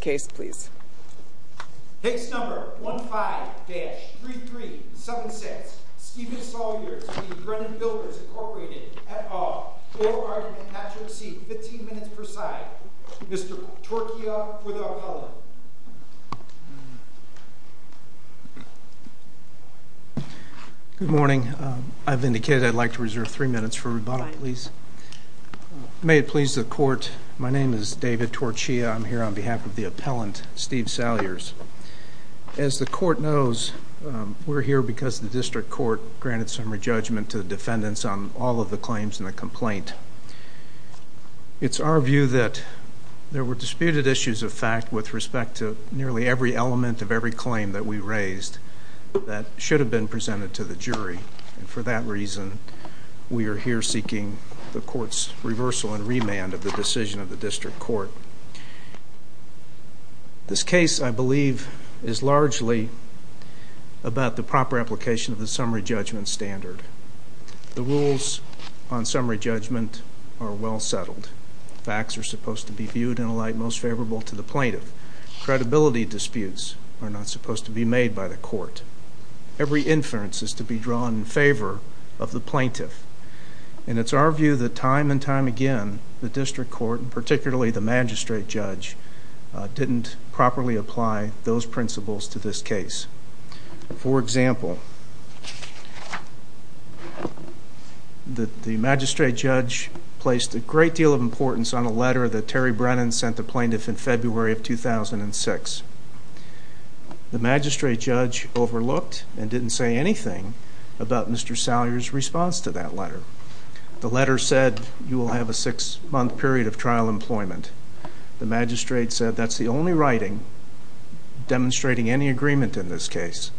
Case number 15-3376, Stephen Salyers v. Brennan Builders, Inc. at Awe, Oro Garden, Natchez C, 15 minutes per side. Mr. Torchia for the appellate. Good morning. I've indicated I'd like to reserve three minutes for rebuttal, please. May it please the court, my name is David Torchia. I'm here on behalf of the appellant, Steve Salyers. As the court knows, we're here because the district court granted some re-judgment to the defendants on all of the claims in the complaint. It's our view that there were disputed issues of fact with respect to nearly every element of every claim that we raised that should have been presented to the jury. For that reason, we are here seeking the court's reversal and remand of the decision of the district court. This case, I believe, is largely about the proper application of the summary judgment standard. The rules on summary judgment are well settled. Facts are supposed to be viewed in a light most favorable to the plaintiff. Credibility disputes are not supposed to be made by the court. Every inference is to be drawn in favor of the plaintiff. And it's our view that time and time again, the district court, particularly the magistrate judge, didn't properly apply those principles to this case. For example, the magistrate judge placed a great deal of importance on a letter that Terry Brennan sent the plaintiff in February of 2006. The magistrate judge overlooked and didn't say anything about Mr. Salyer's response to that letter. The letter said you will have a six-month period of trial employment. The magistrate said that's the only writing demonstrating any agreement in this case.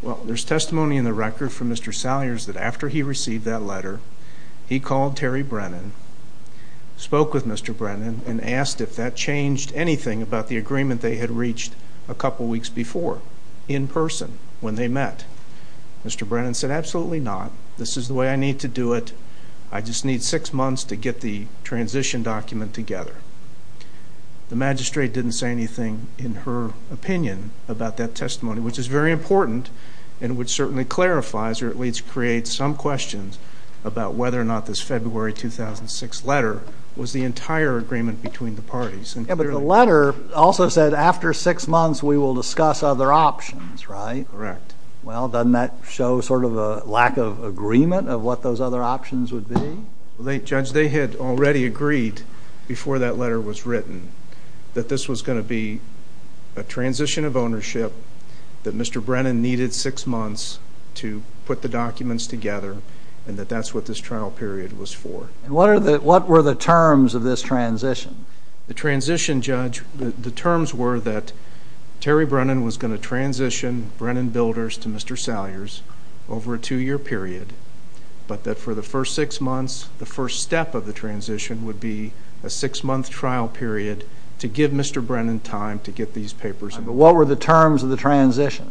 Well, there's testimony in the record from Mr. Salyer's that after he received that letter, he called Terry Brennan, spoke with Mr. Brennan, and asked if that changed anything about the agreement they had reached a couple weeks before in person when they met. Mr. Brennan said absolutely not. This is the way I need to do it. I just need six months to get the transition document together. The magistrate didn't say anything in her opinion about that testimony, which is very important and which certainly clarifies or at least creates some questions about whether or not this February 2006 letter was the entire agreement between the parties. But the letter also said after six months we will discuss other options, right? Correct. Well, doesn't that show sort of a lack of agreement of what those other options would be? Judge, they had already agreed before that letter was written that this was going to be a transition of ownership that Mr. Brennan needed six months to put the documents together and that that's what this trial period was for. And what were the terms of this transition? The transition, Judge, the terms were that Terry Brennan was going to transition Brennan Builders to Mr. Salyer's over a two-year period, but that for the first six months, the first step of the transition would be a six-month trial period to give Mr. Brennan time to get these papers. But what were the terms of the transition?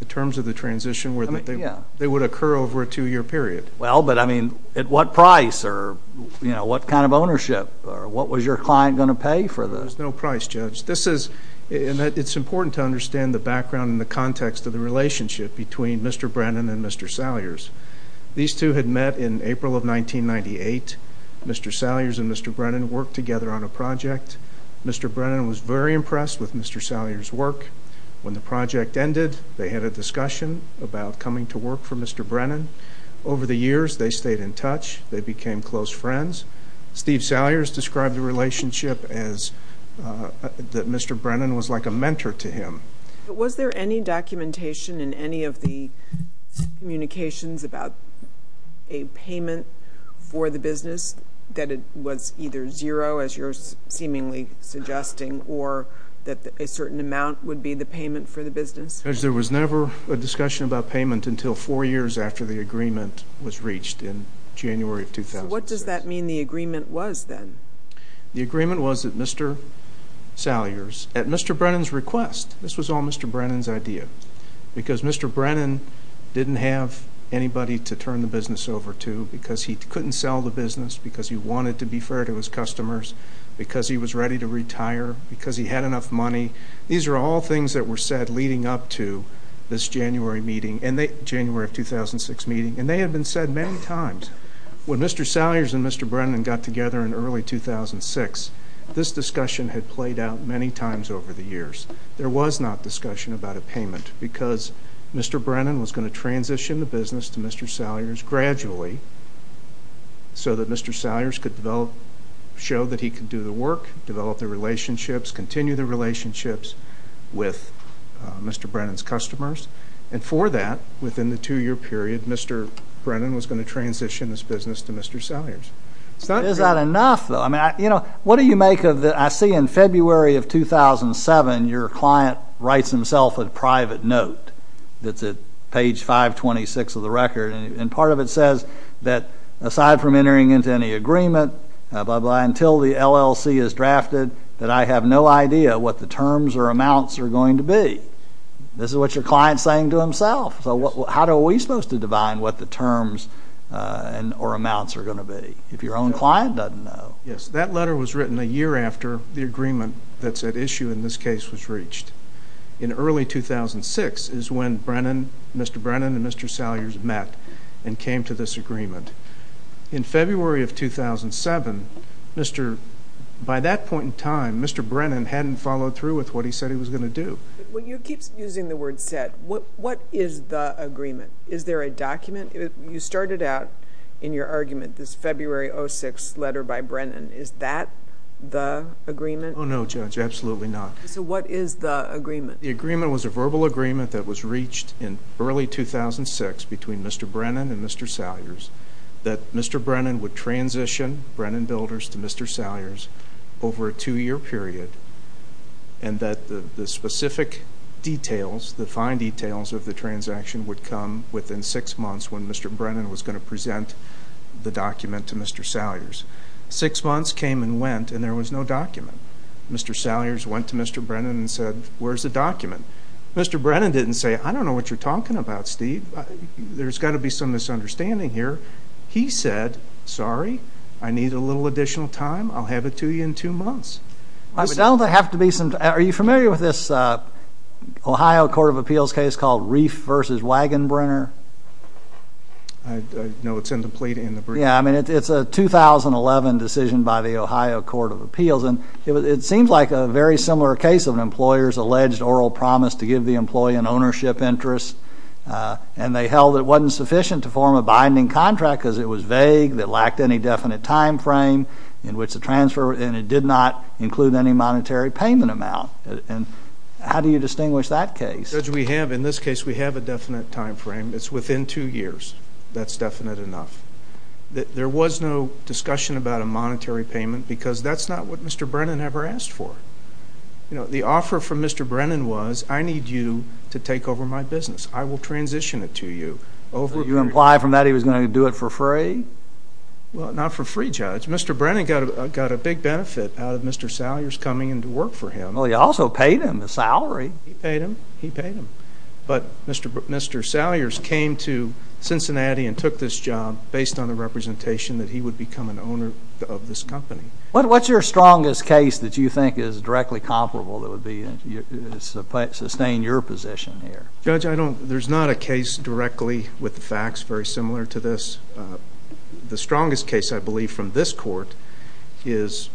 The terms of the transition were that they would occur over a two-year period. Well, but, I mean, at what price or, you know, what kind of ownership or what was your client going to pay for this? There was no price, Judge. This is, and it's important to understand the background and the context of the relationship between Mr. Brennan and Mr. Salyer's. These two had met in April of 1998. Mr. Salyer's and Mr. Brennan worked together on a project. Mr. Brennan was very impressed with Mr. Salyer's work. When the project ended, they had a discussion about coming to work for Mr. Brennan. Over the years, they stayed in touch. They became close friends. Steve Salyer has described the relationship as that Mr. Brennan was like a mentor to him. Was there any documentation in any of the communications about a payment for the business that it was either zero, as you're seemingly suggesting, or that a certain amount would be the payment for the business? Judge, there was never a discussion about payment until four years after the agreement was reached in January of 2006. So what does that mean the agreement was then? The agreement was that Mr. Salyer's, at Mr. Brennan's request, this was all Mr. Brennan's idea because Mr. Brennan didn't have anybody to turn the business over to because he couldn't sell the business, because he wanted to be fair to his customers, because he was ready to retire, because he had enough money. These are all things that were said leading up to this January of 2006 meeting, and they had been said many times. When Mr. Salyer's and Mr. Brennan got together in early 2006, this discussion had played out many times over the years. There was not discussion about a payment because Mr. Brennan was going to transition the business to Mr. Salyer's gradually so that Mr. Salyer's could show that he could do the work, develop the relationships, continue the relationships with Mr. Brennan's customers. And for that, within the two-year period, Mr. Brennan was going to transition this business to Mr. Salyer's. Is that enough, though? I see in February of 2007 your client writes himself a private note that's at page 526 of the record, and part of it says that aside from entering into any agreement until the LLC is drafted, that I have no idea what the terms or amounts are going to be. This is what your client is saying to himself. So how are we supposed to define what the terms or amounts are going to be if your own client doesn't know? Yes, that letter was written a year after the agreement that's at issue in this case was reached. In early 2006 is when Mr. Brennan and Mr. Salyer met and came to this agreement. In February of 2007, by that point in time, Mr. Brennan hadn't followed through with what he said he was going to do. When you keep using the word said, what is the agreement? Is there a document? You started out in your argument this February 06 letter by Brennan. Is that the agreement? Oh, no, Judge, absolutely not. So what is the agreement? The agreement was a verbal agreement that was reached in early 2006 between Mr. Brennan and Mr. Salyer's that Mr. Brennan would transition Brennan Builders to Mr. Salyer's over a two-year period and that the specific details, the fine details of the transaction would come within six months when Mr. Brennan was going to present the document to Mr. Salyer's. Six months came and went and there was no document. Mr. Salyer's went to Mr. Brennan and said, where's the document? Mr. Brennan didn't say, I don't know what you're talking about, Steve. There's got to be some misunderstanding here. He said, sorry, I need a little additional time. I'll have it to you in two months. Are you familiar with this Ohio Court of Appeals case called Reif v. Wagenbrenner? No, it's in the plea to end the breach. Yeah, I mean, it's a 2011 decision by the Ohio Court of Appeals and it seems like a very similar case of an employer's alleged oral promise to give the employee an ownership interest and they held it wasn't sufficient to form a binding contract because it was vague, it lacked any definite time frame in which the transfer and it did not include any monetary payment amount. How do you distinguish that case? Judge, we have, in this case, we have a definite time frame. It's within two years. That's definite enough. There was no discussion about a monetary payment because that's not what Mr. Brennan ever asked for. The offer from Mr. Brennan was, I need you to take over my business. I will transition it to you. You imply from that he was going to do it for free? Well, not for free, Judge. Mr. Brennan got a big benefit out of Mr. Salyers coming in to work for him. Well, he also paid him the salary. He paid him. He paid him. But Mr. Salyers came to Cincinnati and took this job based on the representation that he would become an owner of this company. What's your strongest case that you think is directly comparable that would sustain your position here? Judge, there's not a case directly with the facts very similar to this. The strongest case, I believe, from this court is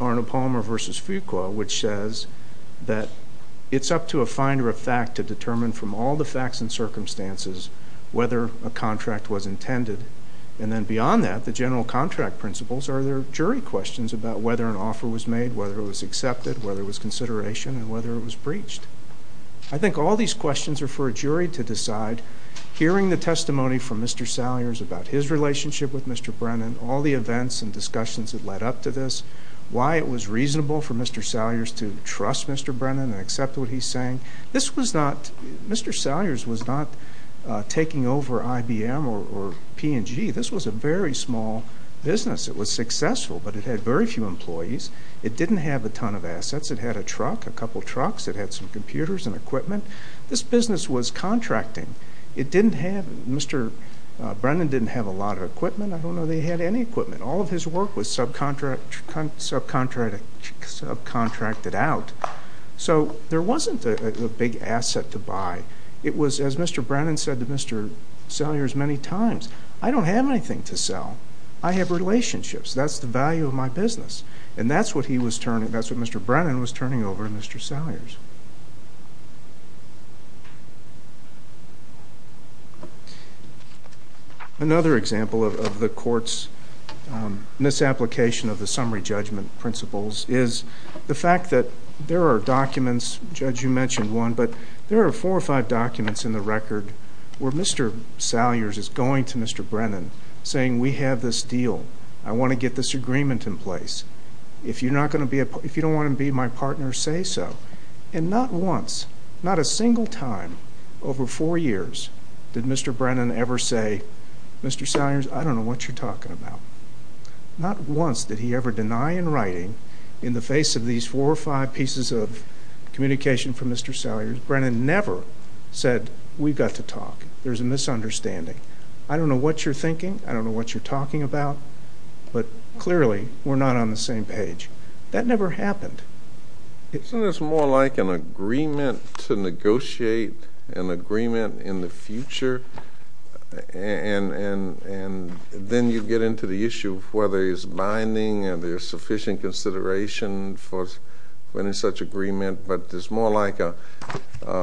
Arno Palmer v. Fuqua, which says that it's up to a finder of fact to determine from all the facts and circumstances whether a contract was intended. And then beyond that, the general contract principles are their jury questions about whether an offer was made, whether it was accepted, whether it was consideration, and whether it was breached. I think all these questions are for a jury to decide. Hearing the testimony from Mr. Salyers about his relationship with Mr. Brennan, all the events and discussions that led up to this, why it was reasonable for Mr. Salyers to trust Mr. Brennan and accept what he's saying, Mr. Salyers was not taking over IBM or P&G. This was a very small business. It was successful, but it had very few employees. It didn't have a ton of assets. It had a truck, a couple trucks. It had some computers and equipment. This business was contracting. Mr. Brennan didn't have a lot of equipment. I don't know that he had any equipment. All of his work was subcontracted out. So there wasn't a big asset to buy. It was, as Mr. Brennan said to Mr. Salyers many times, I don't have anything to sell. I have relationships. That's the value of my business. And that's what Mr. Brennan was turning over to Mr. Salyers. Another example of the court's misapplication of the summary judgment principles is the fact that there are documents, Judge, you mentioned one, but there are four or five documents in the record where Mr. Salyers is going to Mr. Brennan, saying we have this deal. I want to get this agreement in place. If you don't want to be my partner, say so. And not once, not a single time over four years did Mr. Brennan ever say, Mr. Salyers, I don't know what you're talking about. Not once did he ever deny in writing, in the face of these four or five pieces of communication from Mr. Salyers, Brennan never said we've got to talk. There's a misunderstanding. I don't know what you're thinking. I don't know what you're talking about. But clearly we're not on the same page. That never happened. Isn't this more like an agreement to negotiate an agreement in the future? And then you get into the issue of whether there's binding and there's sufficient consideration for any such agreement. But it's more like an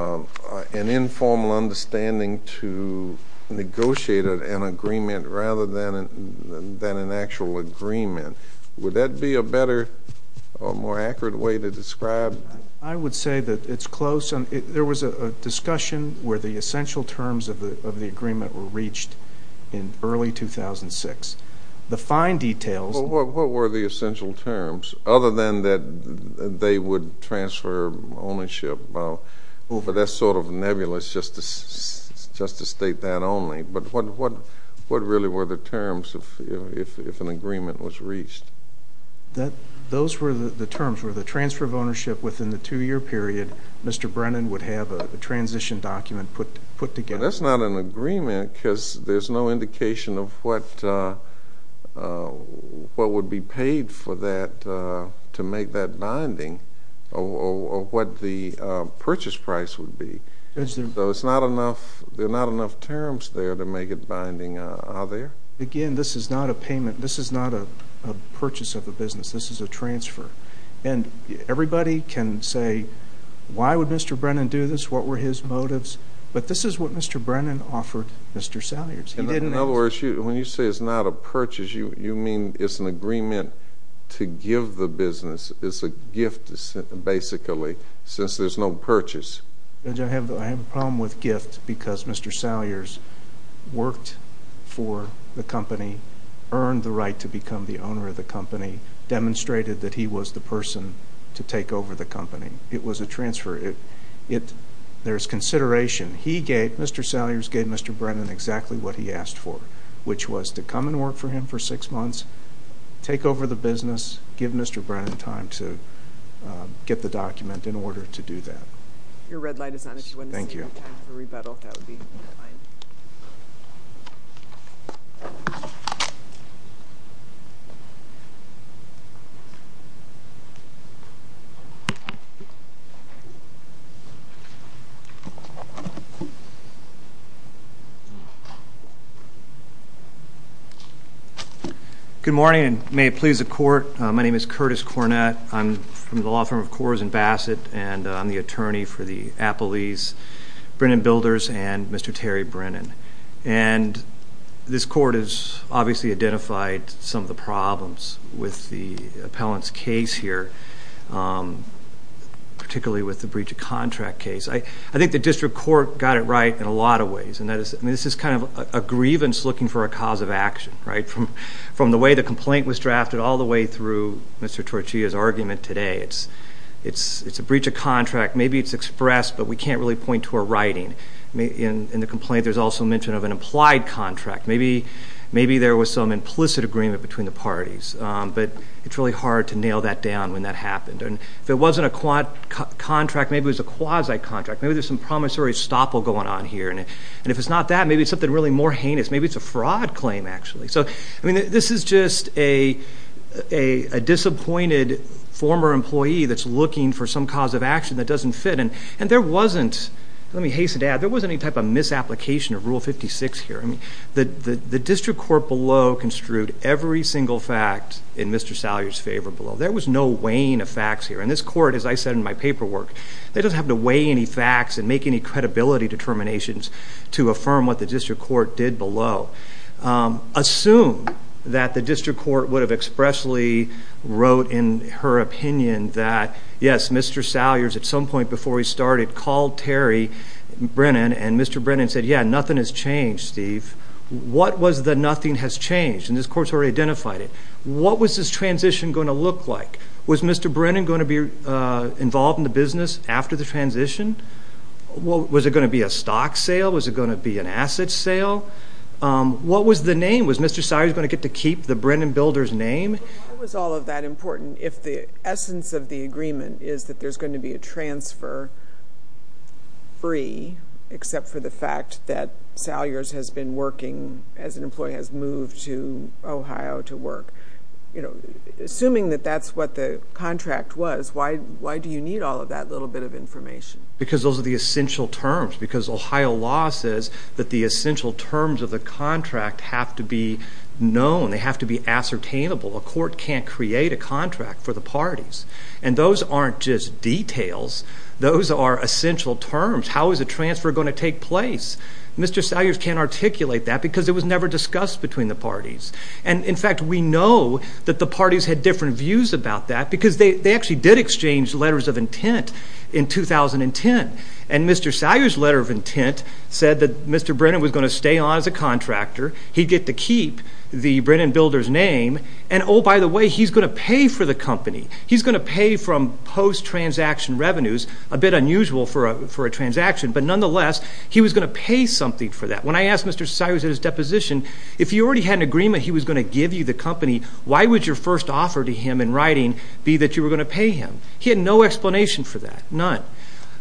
informal understanding to negotiate an agreement rather than an actual agreement. Would that be a better or more accurate way to describe it? I would say that it's close. There was a discussion where the essential terms of the agreement were reached in early 2006. The fine details. What were the essential terms? Other than that they would transfer ownership. That's sort of nebulous just to state that only. But what really were the terms if an agreement was reached? Those were the terms were the transfer of ownership within the two-year period. Mr. Brennan would have a transition document put together. That's not an agreement because there's no indication of what would be paid for that to make that binding or what the purchase price would be. So there are not enough terms there to make it binding, are there? Again, this is not a payment. This is not a purchase of the business. This is a transfer. And everybody can say, why would Mr. Brennan do this? What were his motives? But this is what Mr. Brennan offered Mr. Salyers. In other words, when you say it's not a purchase, you mean it's an agreement to give the business as a gift basically since there's no purchase. I have a problem with gift because Mr. Salyers worked for the company, earned the right to become the owner of the company, demonstrated that he was the person to take over the company. It was a transfer. There's consideration. He gave, Mr. Salyers gave Mr. Brennan exactly what he asked for, which was to come and work for him for six months, take over the business, give Mr. Brennan time to get the document in order to do that. Your red light is on. Thank you. If we have time for rebuttal, that would be fine. Good morning, and may it please the Court. My name is Curtis Cornett. I'm from the law firm of Coors and Bassett, and I'm the attorney for the Appalese Brennan Builders and Mr. Terry Brennan. And this Court has obviously identified some of the problems with the appellant's case here, particularly with the breach of contract case. I think the district court got it right in a lot of ways, and this is kind of a grievance looking for a cause of action, right, from the way the complaint was drafted all the way through Mr. Torchia's argument today. It's a breach of contract. Maybe it's expressed, but we can't really point to a writing. In the complaint, there's also mention of an implied contract. Maybe there was some implicit agreement between the parties, but it's really hard to nail that down when that happened. If it wasn't a contract, maybe it was a quasi-contract. Maybe there's some promissory stopple going on here, and if it's not that, maybe it's something really more heinous. Maybe it's a fraud claim, actually. So, I mean, this is just a disappointed former employee that's looking for some cause of action that doesn't fit. And there wasn't, let me hasten to add, there wasn't any type of misapplication of Rule 56 here. The district court below construed every single fact in Mr. Salyer's favor below. There was no weighing of facts here, and this Court, as I said in my paperwork, they don't have to weigh any facts and make any credibility determinations to affirm what the district court did below. Assume that the district court would have expressly wrote in her opinion that, yes, Mr. Salyer's, at some point before he started, called Terry Brennan, and Mr. Brennan said, yeah, nothing has changed, Steve. What was the nothing has changed? And this Court's already identified it. What was this transition going to look like? Was Mr. Brennan going to be involved in the business after the transition? Was it going to be a stock sale? Was it going to be an asset sale? What was the name? Was Mr. Salyer going to get to keep the Brennan builder's name? Why was all of that important if the essence of the agreement is that there's going to be a transfer free, except for the fact that Salyer has been working as an employee, has moved to Ohio to work? Assuming that that's what the contract was, why do you need all of that little bit of information? Because those are the essential terms. Because Ohio law says that the essential terms of the contract have to be known. They have to be ascertainable. A court can't create a contract for the parties. And those aren't just details. Those are essential terms. How is a transfer going to take place? And, in fact, we know that the parties had different views about that because they actually did exchange letters of intent in 2010. And Mr. Salyer's letter of intent said that Mr. Brennan was going to stay on as a contractor. He'd get to keep the Brennan builder's name. And, oh, by the way, he's going to pay for the company. He's going to pay from post-transaction revenues, a bit unusual for a transaction. But, nonetheless, he was going to pay something for that. When I asked Mr. Salyer at his deposition if he already had an agreement he was going to give you the company, why would your first offer to him in writing be that you were going to pay him? He had no explanation for that, none.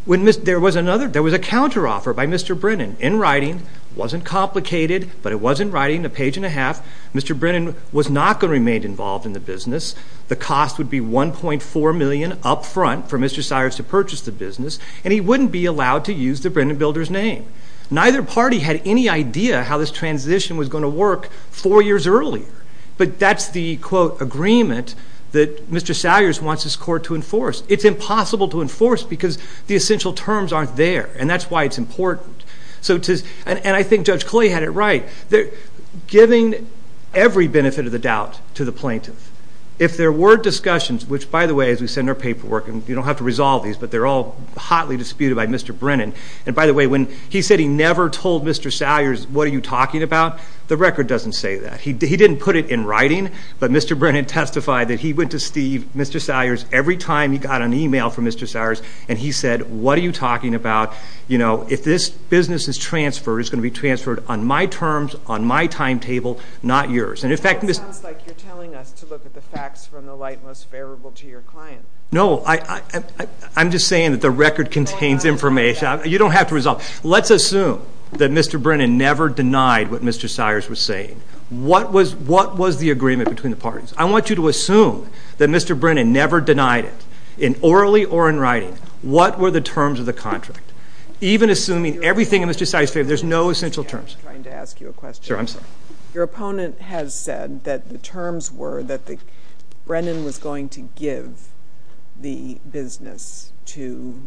There was a counteroffer by Mr. Brennan in writing. It wasn't complicated, but it was in writing, a page and a half. Mr. Brennan was not going to remain involved in the business. The cost would be $1.4 million up front for Mr. Salyer to purchase the business, and he wouldn't be allowed to use the Brennan builder's name. Neither party had any idea how this transition was going to work four years earlier. But that's the, quote, agreement that Mr. Salyer wants his court to enforce. It's impossible to enforce because the essential terms aren't there, and that's why it's important. And I think Judge Clay had it right. Giving every benefit of the doubt to the plaintiff. If there were discussions, which, by the way, as we said in our paperwork, and you don't have to resolve these, but they're all hotly disputed by Mr. Brennan. And, by the way, when he said he never told Mr. Salyer, what are you talking about? The record doesn't say that. He didn't put it in writing, but Mr. Brennan testified that he went to Steve, Mr. Salyer, every time he got an e-mail from Mr. Salyer, and he said, what are you talking about? You know, if this business is transferred, it's going to be transferred on my terms, on my timetable, not yours. And, in fact, Ms. It sounds like you're telling us to look at the facts from the light most favorable to your client. No, I'm just saying that the record contains information. You don't have to resolve it. Let's assume that Mr. Brennan never denied what Mr. Salyer was saying. What was the agreement between the parties? I want you to assume that Mr. Brennan never denied it, in orally or in writing. What were the terms of the contract? Even assuming everything in Mr. Salyer's favor, there's no essential terms. I'm trying to ask you a question. Sure, I'm sorry. Your opponent has said that the terms were that Brennan was going to give the business to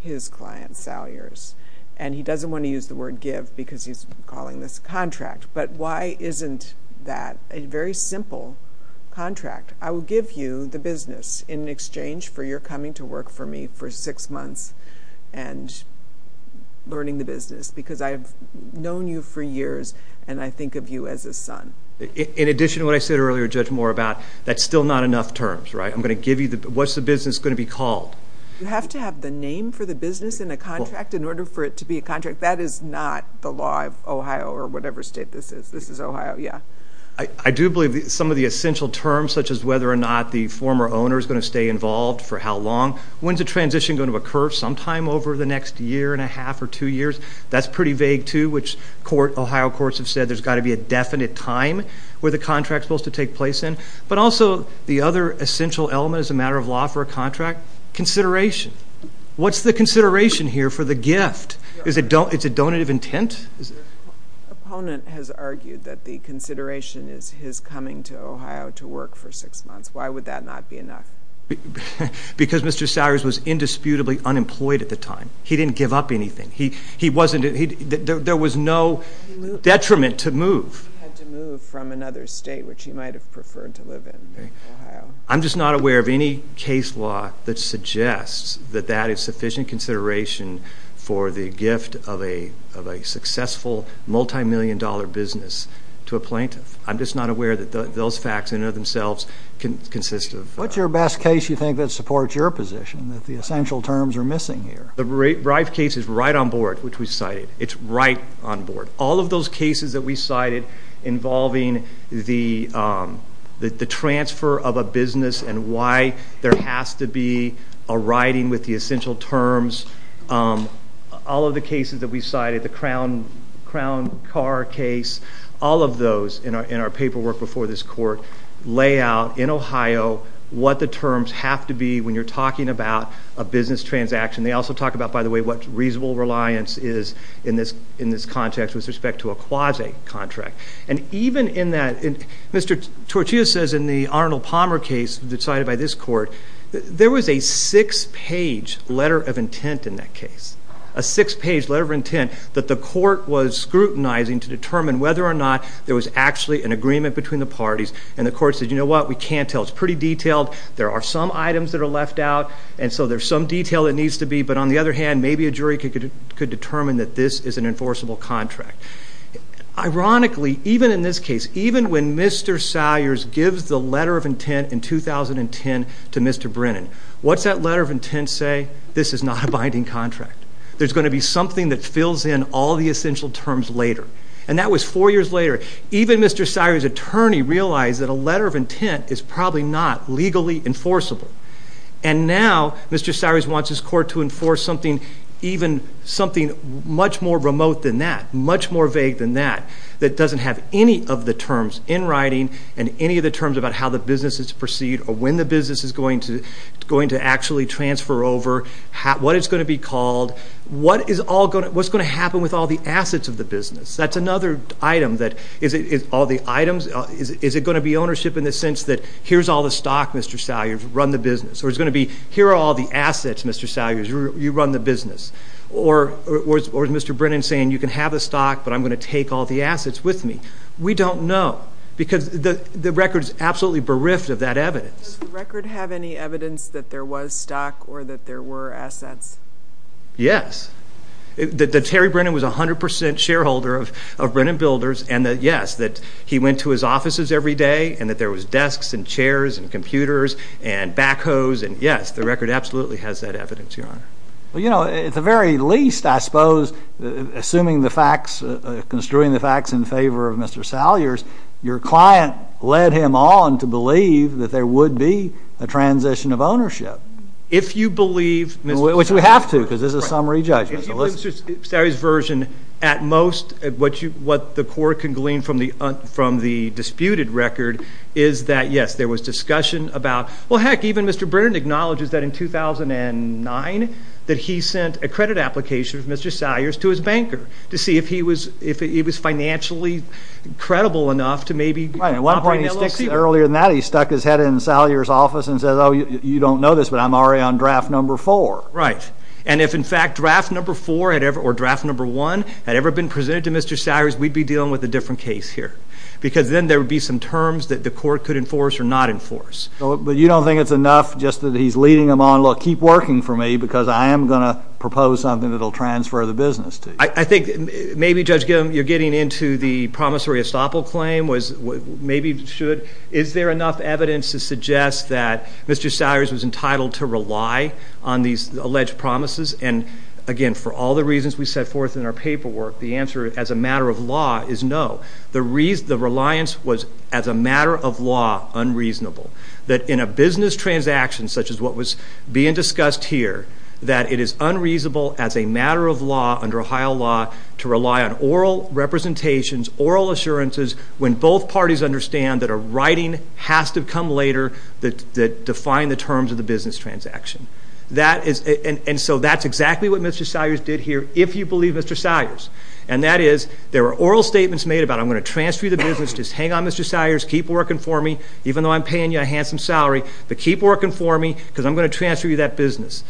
his client, Salyer's, and he doesn't want to use the word give because he's calling this a contract. But why isn't that a very simple contract? I will give you the business in exchange for your coming to work for me for six months and learning the business because I've known you for years and I think of you as a son. In addition to what I said earlier, Judge Moore, about that's still not enough terms, right? I'm going to give you the business. What's the business going to be called? You have to have the name for the business in a contract in order for it to be a contract. That is not the law of Ohio or whatever state this is. This is Ohio, yeah. I do believe some of the essential terms, such as whether or not the former owner is going to stay involved for how long, when's the transition going to occur, sometime over the next year and a half or two years, that's pretty vague too, which Ohio courts have said there's got to be a definite time where the contract is supposed to take place in. But also the other essential element as a matter of law for a contract, consideration. What's the consideration here for the gift? Is it donative intent? The opponent has argued that the consideration is his coming to Ohio to work for six months. Why would that not be enough? Because Mr. Salyer's was indisputably unemployed at the time. He didn't give up anything. There was no detriment to move. He had to move from another state, which he might have preferred to live in, Ohio. I'm just not aware of any case law that suggests that that is sufficient consideration for the gift of a successful multimillion-dollar business to a plaintiff. I'm just not aware that those facts in and of themselves can consist of. What's your best case you think that supports your position, that the essential terms are missing here? The Reif case is right on board, which we cited. It's right on board. All of those cases that we cited involving the transfer of a business and why there has to be a writing with the essential terms, all of the cases that we cited, the Crown car case, all of those in our paperwork before this court lay out in Ohio what the terms have to be when you're talking about a business transaction. They also talk about, by the way, what reasonable reliance is in this context with respect to a quasi-contract. And even in that, Mr. Torchia says in the Arnold Palmer case decided by this court, there was a six-page letter of intent in that case, a six-page letter of intent, that the court was scrutinizing to determine whether or not there was actually an agreement between the parties. And the court said, you know what, we can't tell. It's pretty detailed. There are some items that are left out. And so there's some detail that needs to be. But on the other hand, maybe a jury could determine that this is an enforceable contract. Ironically, even in this case, even when Mr. Sires gives the letter of intent in 2010 to Mr. Brennan, what's that letter of intent say? This is not a binding contract. There's going to be something that fills in all the essential terms later. And that was four years later. Even Mr. Sires' attorney realized that a letter of intent is probably not legally enforceable. And now Mr. Sires wants his court to enforce something even much more remote than that, much more vague than that, that doesn't have any of the terms in writing and any of the terms about how the business is to proceed or when the business is going to actually transfer over, what it's going to be called, what's going to happen with all the assets of the business. That's another item. Is it going to be ownership in the sense that here's all the stock, Mr. Sires, run the business? Or is it going to be here are all the assets, Mr. Sires, you run the business? Or is Mr. Brennan saying you can have the stock, but I'm going to take all the assets with me? We don't know because the record is absolutely bereft of that evidence. Does the record have any evidence that there was stock or that there were assets? Yes. That Terry Brennan was 100 percent shareholder of Brennan Builders and that yes, that he went to his offices every day and that there was desks and chairs and computers and backhoes and yes, the record absolutely has that evidence, Your Honor. Well, you know, at the very least, I suppose, assuming the facts, construing the facts in favor of Mr. Sires, your client led him on to believe that there would be a transition of ownership. Which we have to because this is a summary judgment. If you look at Mr. Sires' version, at most what the court can glean from the disputed record is that yes, there was discussion about well, heck, even Mr. Brennan acknowledges that in 2009 that he sent a credit application from Mr. Sires to his banker to see if he was financially credible enough to maybe operate an LLC. Earlier than that, he stuck his head in Sires' office and said, oh, you don't know this, but I'm already on draft number four. Right. And if, in fact, draft number four or draft number one had ever been presented to Mr. Sires, we'd be dealing with a different case here because then there would be some terms that the court could enforce or not enforce. But you don't think it's enough just that he's leading him on, look, keep working for me because I am going to propose something that will transfer the business to you. I think maybe, Judge Gilman, you're getting into the promissory estoppel claim, maybe should. Is there enough evidence to suggest that Mr. Sires was entitled to rely on these alleged promises? And, again, for all the reasons we set forth in our paperwork, the answer as a matter of law is no. The reliance was as a matter of law unreasonable, that in a business transaction such as what was being discussed here, that it is unreasonable as a matter of law under Ohio law to rely on oral representations, oral assurances when both parties understand that a writing has to come later that define the terms of the business transaction. And so that's exactly what Mr. Sires did here, if you believe Mr. Sires. And that is there were oral statements made about I'm going to transfer you the business, just hang on, Mr. Sires, keep working for me, even though I'm paying you a handsome salary, but keep working for me because I'm going to transfer you that business.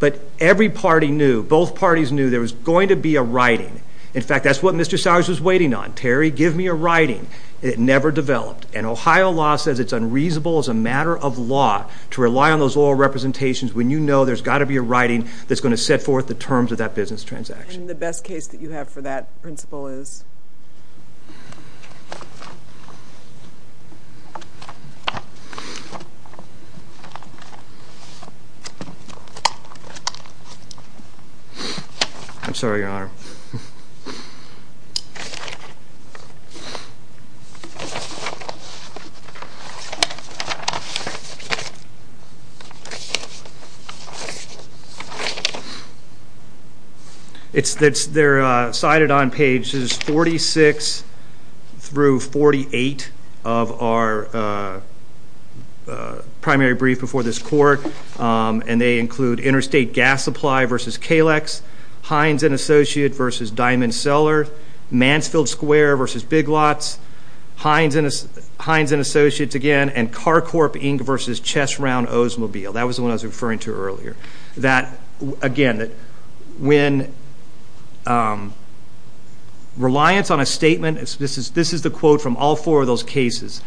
But every party knew, both parties knew there was going to be a writing. In fact, that's what Mr. Sires was waiting on. Terry, give me a writing. It never developed. And Ohio law says it's unreasonable as a matter of law to rely on those oral representations when you know there's got to be a writing that's going to set forth the terms of that business transaction. The best case that you have for that principle is? I'm sorry, Your Honor. They're cited on pages 46 through 48 of our primary brief before this court. And they include Interstate Gas Supply v. Kalex, Hines & Associates v. Diamond Cellar, Mansfield Square v. Big Lots, Hines & Associates again, and Carcorp Inc. v. Chess Round Oldsmobile. That was the one I was referring to earlier. That, again, when reliance on a statement, this is the quote from all four of those cases,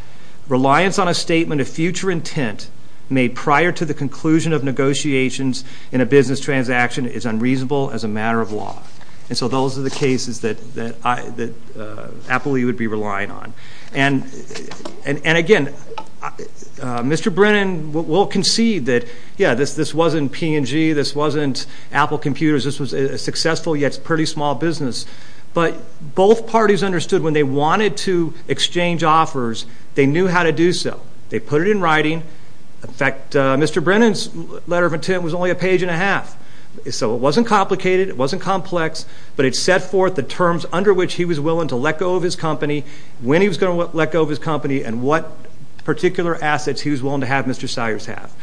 reliance on a statement of future intent made prior to the conclusion of negotiations in a business transaction is unreasonable as a matter of law. And so those are the cases that Apple would be relying on. And, again, Mr. Brennan will concede that, yeah, this wasn't P&G, this wasn't Apple Computers, this was a successful yet pretty small business. But both parties understood when they wanted to exchange offers, they knew how to do so. They put it in writing. In fact, Mr. Brennan's letter of intent was only a page and a half. So it wasn't complicated. It wasn't complex. But it set forth the terms under which he was willing to let go of his company, when he was going to let go of his company, and what particular assets he was willing to have Mr. Sires have.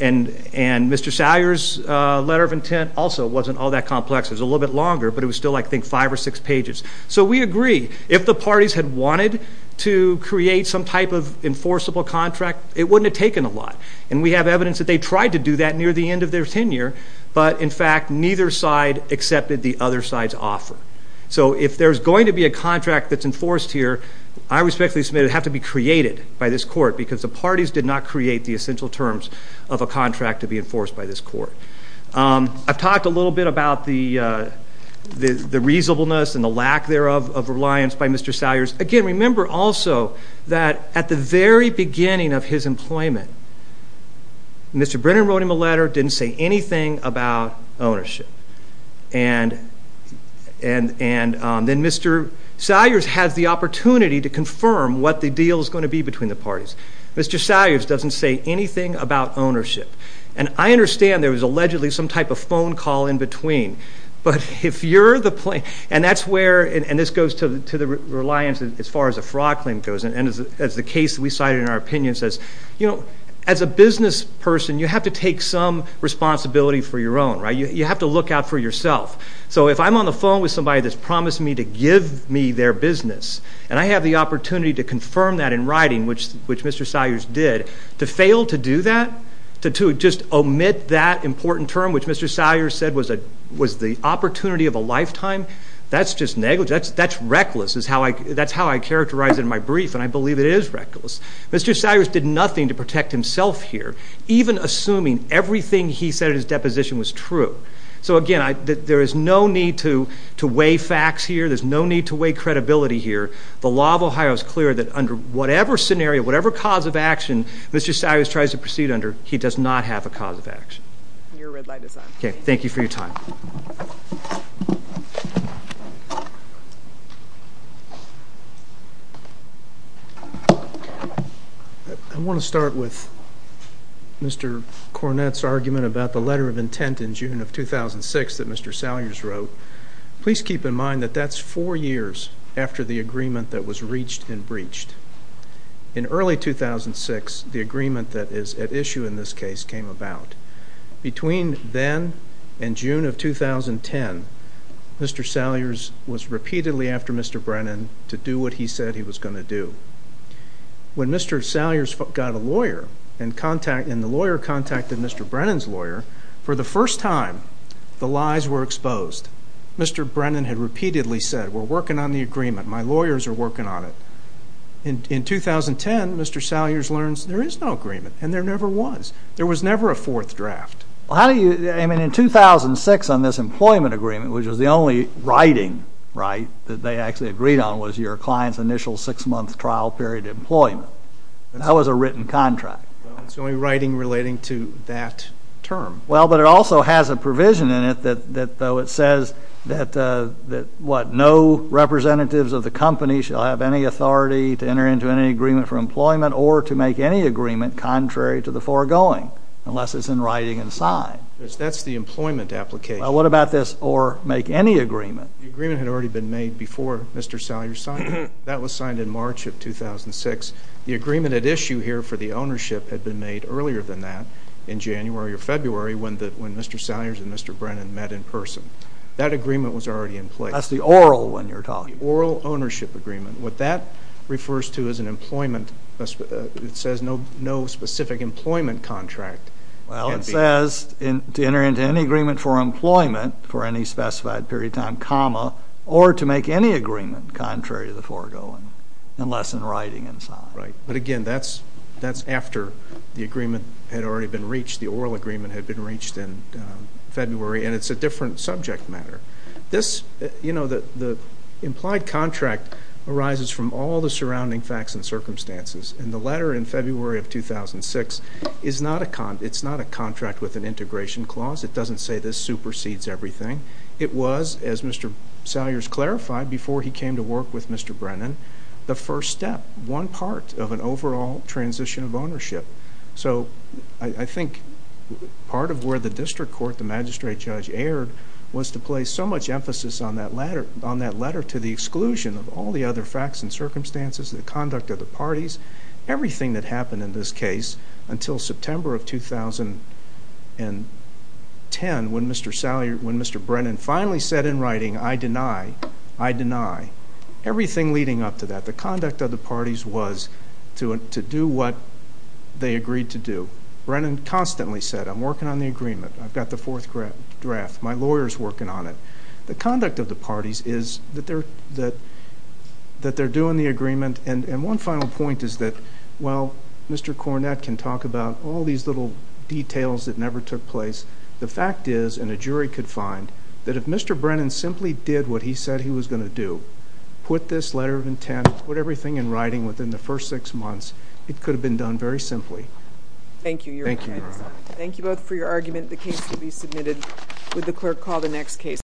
And Mr. Sires' letter of intent also wasn't all that complex. It was a little bit longer, but it was still, I think, five or six pages. So we agree. If the parties had wanted to create some type of enforceable contract, it wouldn't have taken a lot. And we have evidence that they tried to do that near the end of their tenure, but, in fact, neither side accepted the other side's offer. So if there's going to be a contract that's enforced here, I respectfully submit it would have to be created by this court because the parties did not create the essential terms of a contract to be enforced by this court. I've talked a little bit about the reasonableness and the lack thereof of reliance by Mr. Sires. Again, remember also that at the very beginning of his employment, Mr. Brennan wrote him a letter, didn't say anything about ownership. And then Mr. Sires has the opportunity to confirm what the deal is going to be between the parties. Mr. Sires doesn't say anything about ownership. And I understand there was allegedly some type of phone call in between, but if you're the plaintiff and that's where and this goes to the reliance as far as a fraud claim goes and as the case we cited in our opinion says, you know, as a business person, you have to take some responsibility for your own, right? You have to look out for yourself. So if I'm on the phone with somebody that's promised me to give me their business and I have the opportunity to confirm that in writing, which Mr. Sires did, to fail to do that, to just omit that important term, which Mr. Sires said was the opportunity of a lifetime, that's just negligence. That's reckless. That's how I characterize it in my brief, and I believe it is reckless. Mr. Sires did nothing to protect himself here, even assuming everything he said in his deposition was true. So again, there is no need to weigh facts here. There's no need to weigh credibility here. The law of Ohio is clear that under whatever scenario, whatever cause of action Mr. Sires tries to proceed under, he does not have a cause of action. Your red light is on. Okay, thank you for your time. I want to start with Mr. Cornett's argument about the letter of intent in June of 2006 that Mr. Sires wrote. Please keep in mind that that's four years after the agreement that was reached and breached. In early 2006, the agreement that is at issue in this case came about. Between then and June of 2010, Mr. Sires was repeatedly after Mr. Brennan to do what he said he was going to do. When Mr. Sires got a lawyer and the lawyer contacted Mr. Brennan's lawyer, for the first time the lies were exposed. Mr. Brennan had repeatedly said, we're working on the agreement. My lawyers are working on it. In 2010, Mr. Sires learns there is no agreement, and there never was. There was never a fourth draft. I mean, in 2006 on this employment agreement, which was the only writing, right, that they actually agreed on was your client's initial six-month trial period employment. That was a written contract. Well, it's only writing relating to that term. Well, but it also has a provision in it that though it says that, what, no representatives of the company shall have any authority to enter into any agreement for employment or to make any agreement contrary to the foregoing unless it's in writing and signed. That's the employment application. Well, what about this or make any agreement? The agreement had already been made before Mr. Sires signed it. That was signed in March of 2006. The agreement at issue here for the ownership had been made earlier than that in January or February when Mr. Sires and Mr. Brennan met in person. That agreement was already in place. That's the oral when you're talking. The oral ownership agreement. What that refers to is an employment, it says no specific employment contract. Well, it says to enter into any agreement for employment for any specified period of time, comma, or to make any agreement contrary to the foregoing unless in writing and signed. Right. But, again, that's after the agreement had already been reached. The oral agreement had been reached in February, and it's a different subject matter. This, you know, the implied contract arises from all the surrounding facts and circumstances, and the letter in February of 2006 is not a contract with an integration clause. It doesn't say this supersedes everything. It was, as Mr. Sires clarified before he came to work with Mr. Brennan, the first step, one part of an overall transition of ownership. So I think part of where the district court, the magistrate judge erred, was to place so much emphasis on that letter to the exclusion of all the other facts and circumstances, the conduct of the parties, everything that happened in this case until September of 2010 when Mr. Brennan finally said in writing, I deny, I deny, everything leading up to that. The conduct of the parties was to do what they agreed to do. Brennan constantly said, I'm working on the agreement. I've got the fourth draft. My lawyer is working on it. The conduct of the parties is that they're doing the agreement, and one final point is that, well, Mr. Cornett can talk about all these little details that never took place. The fact is, and a jury could find, that if Mr. Brennan simply did what he said he was going to do, put this letter of intent, put everything in writing within the first six months, it could have been done very simply. Thank you, Your Honor. Thank you. Thank you both for your argument. The case will be submitted. Would the clerk call the next case?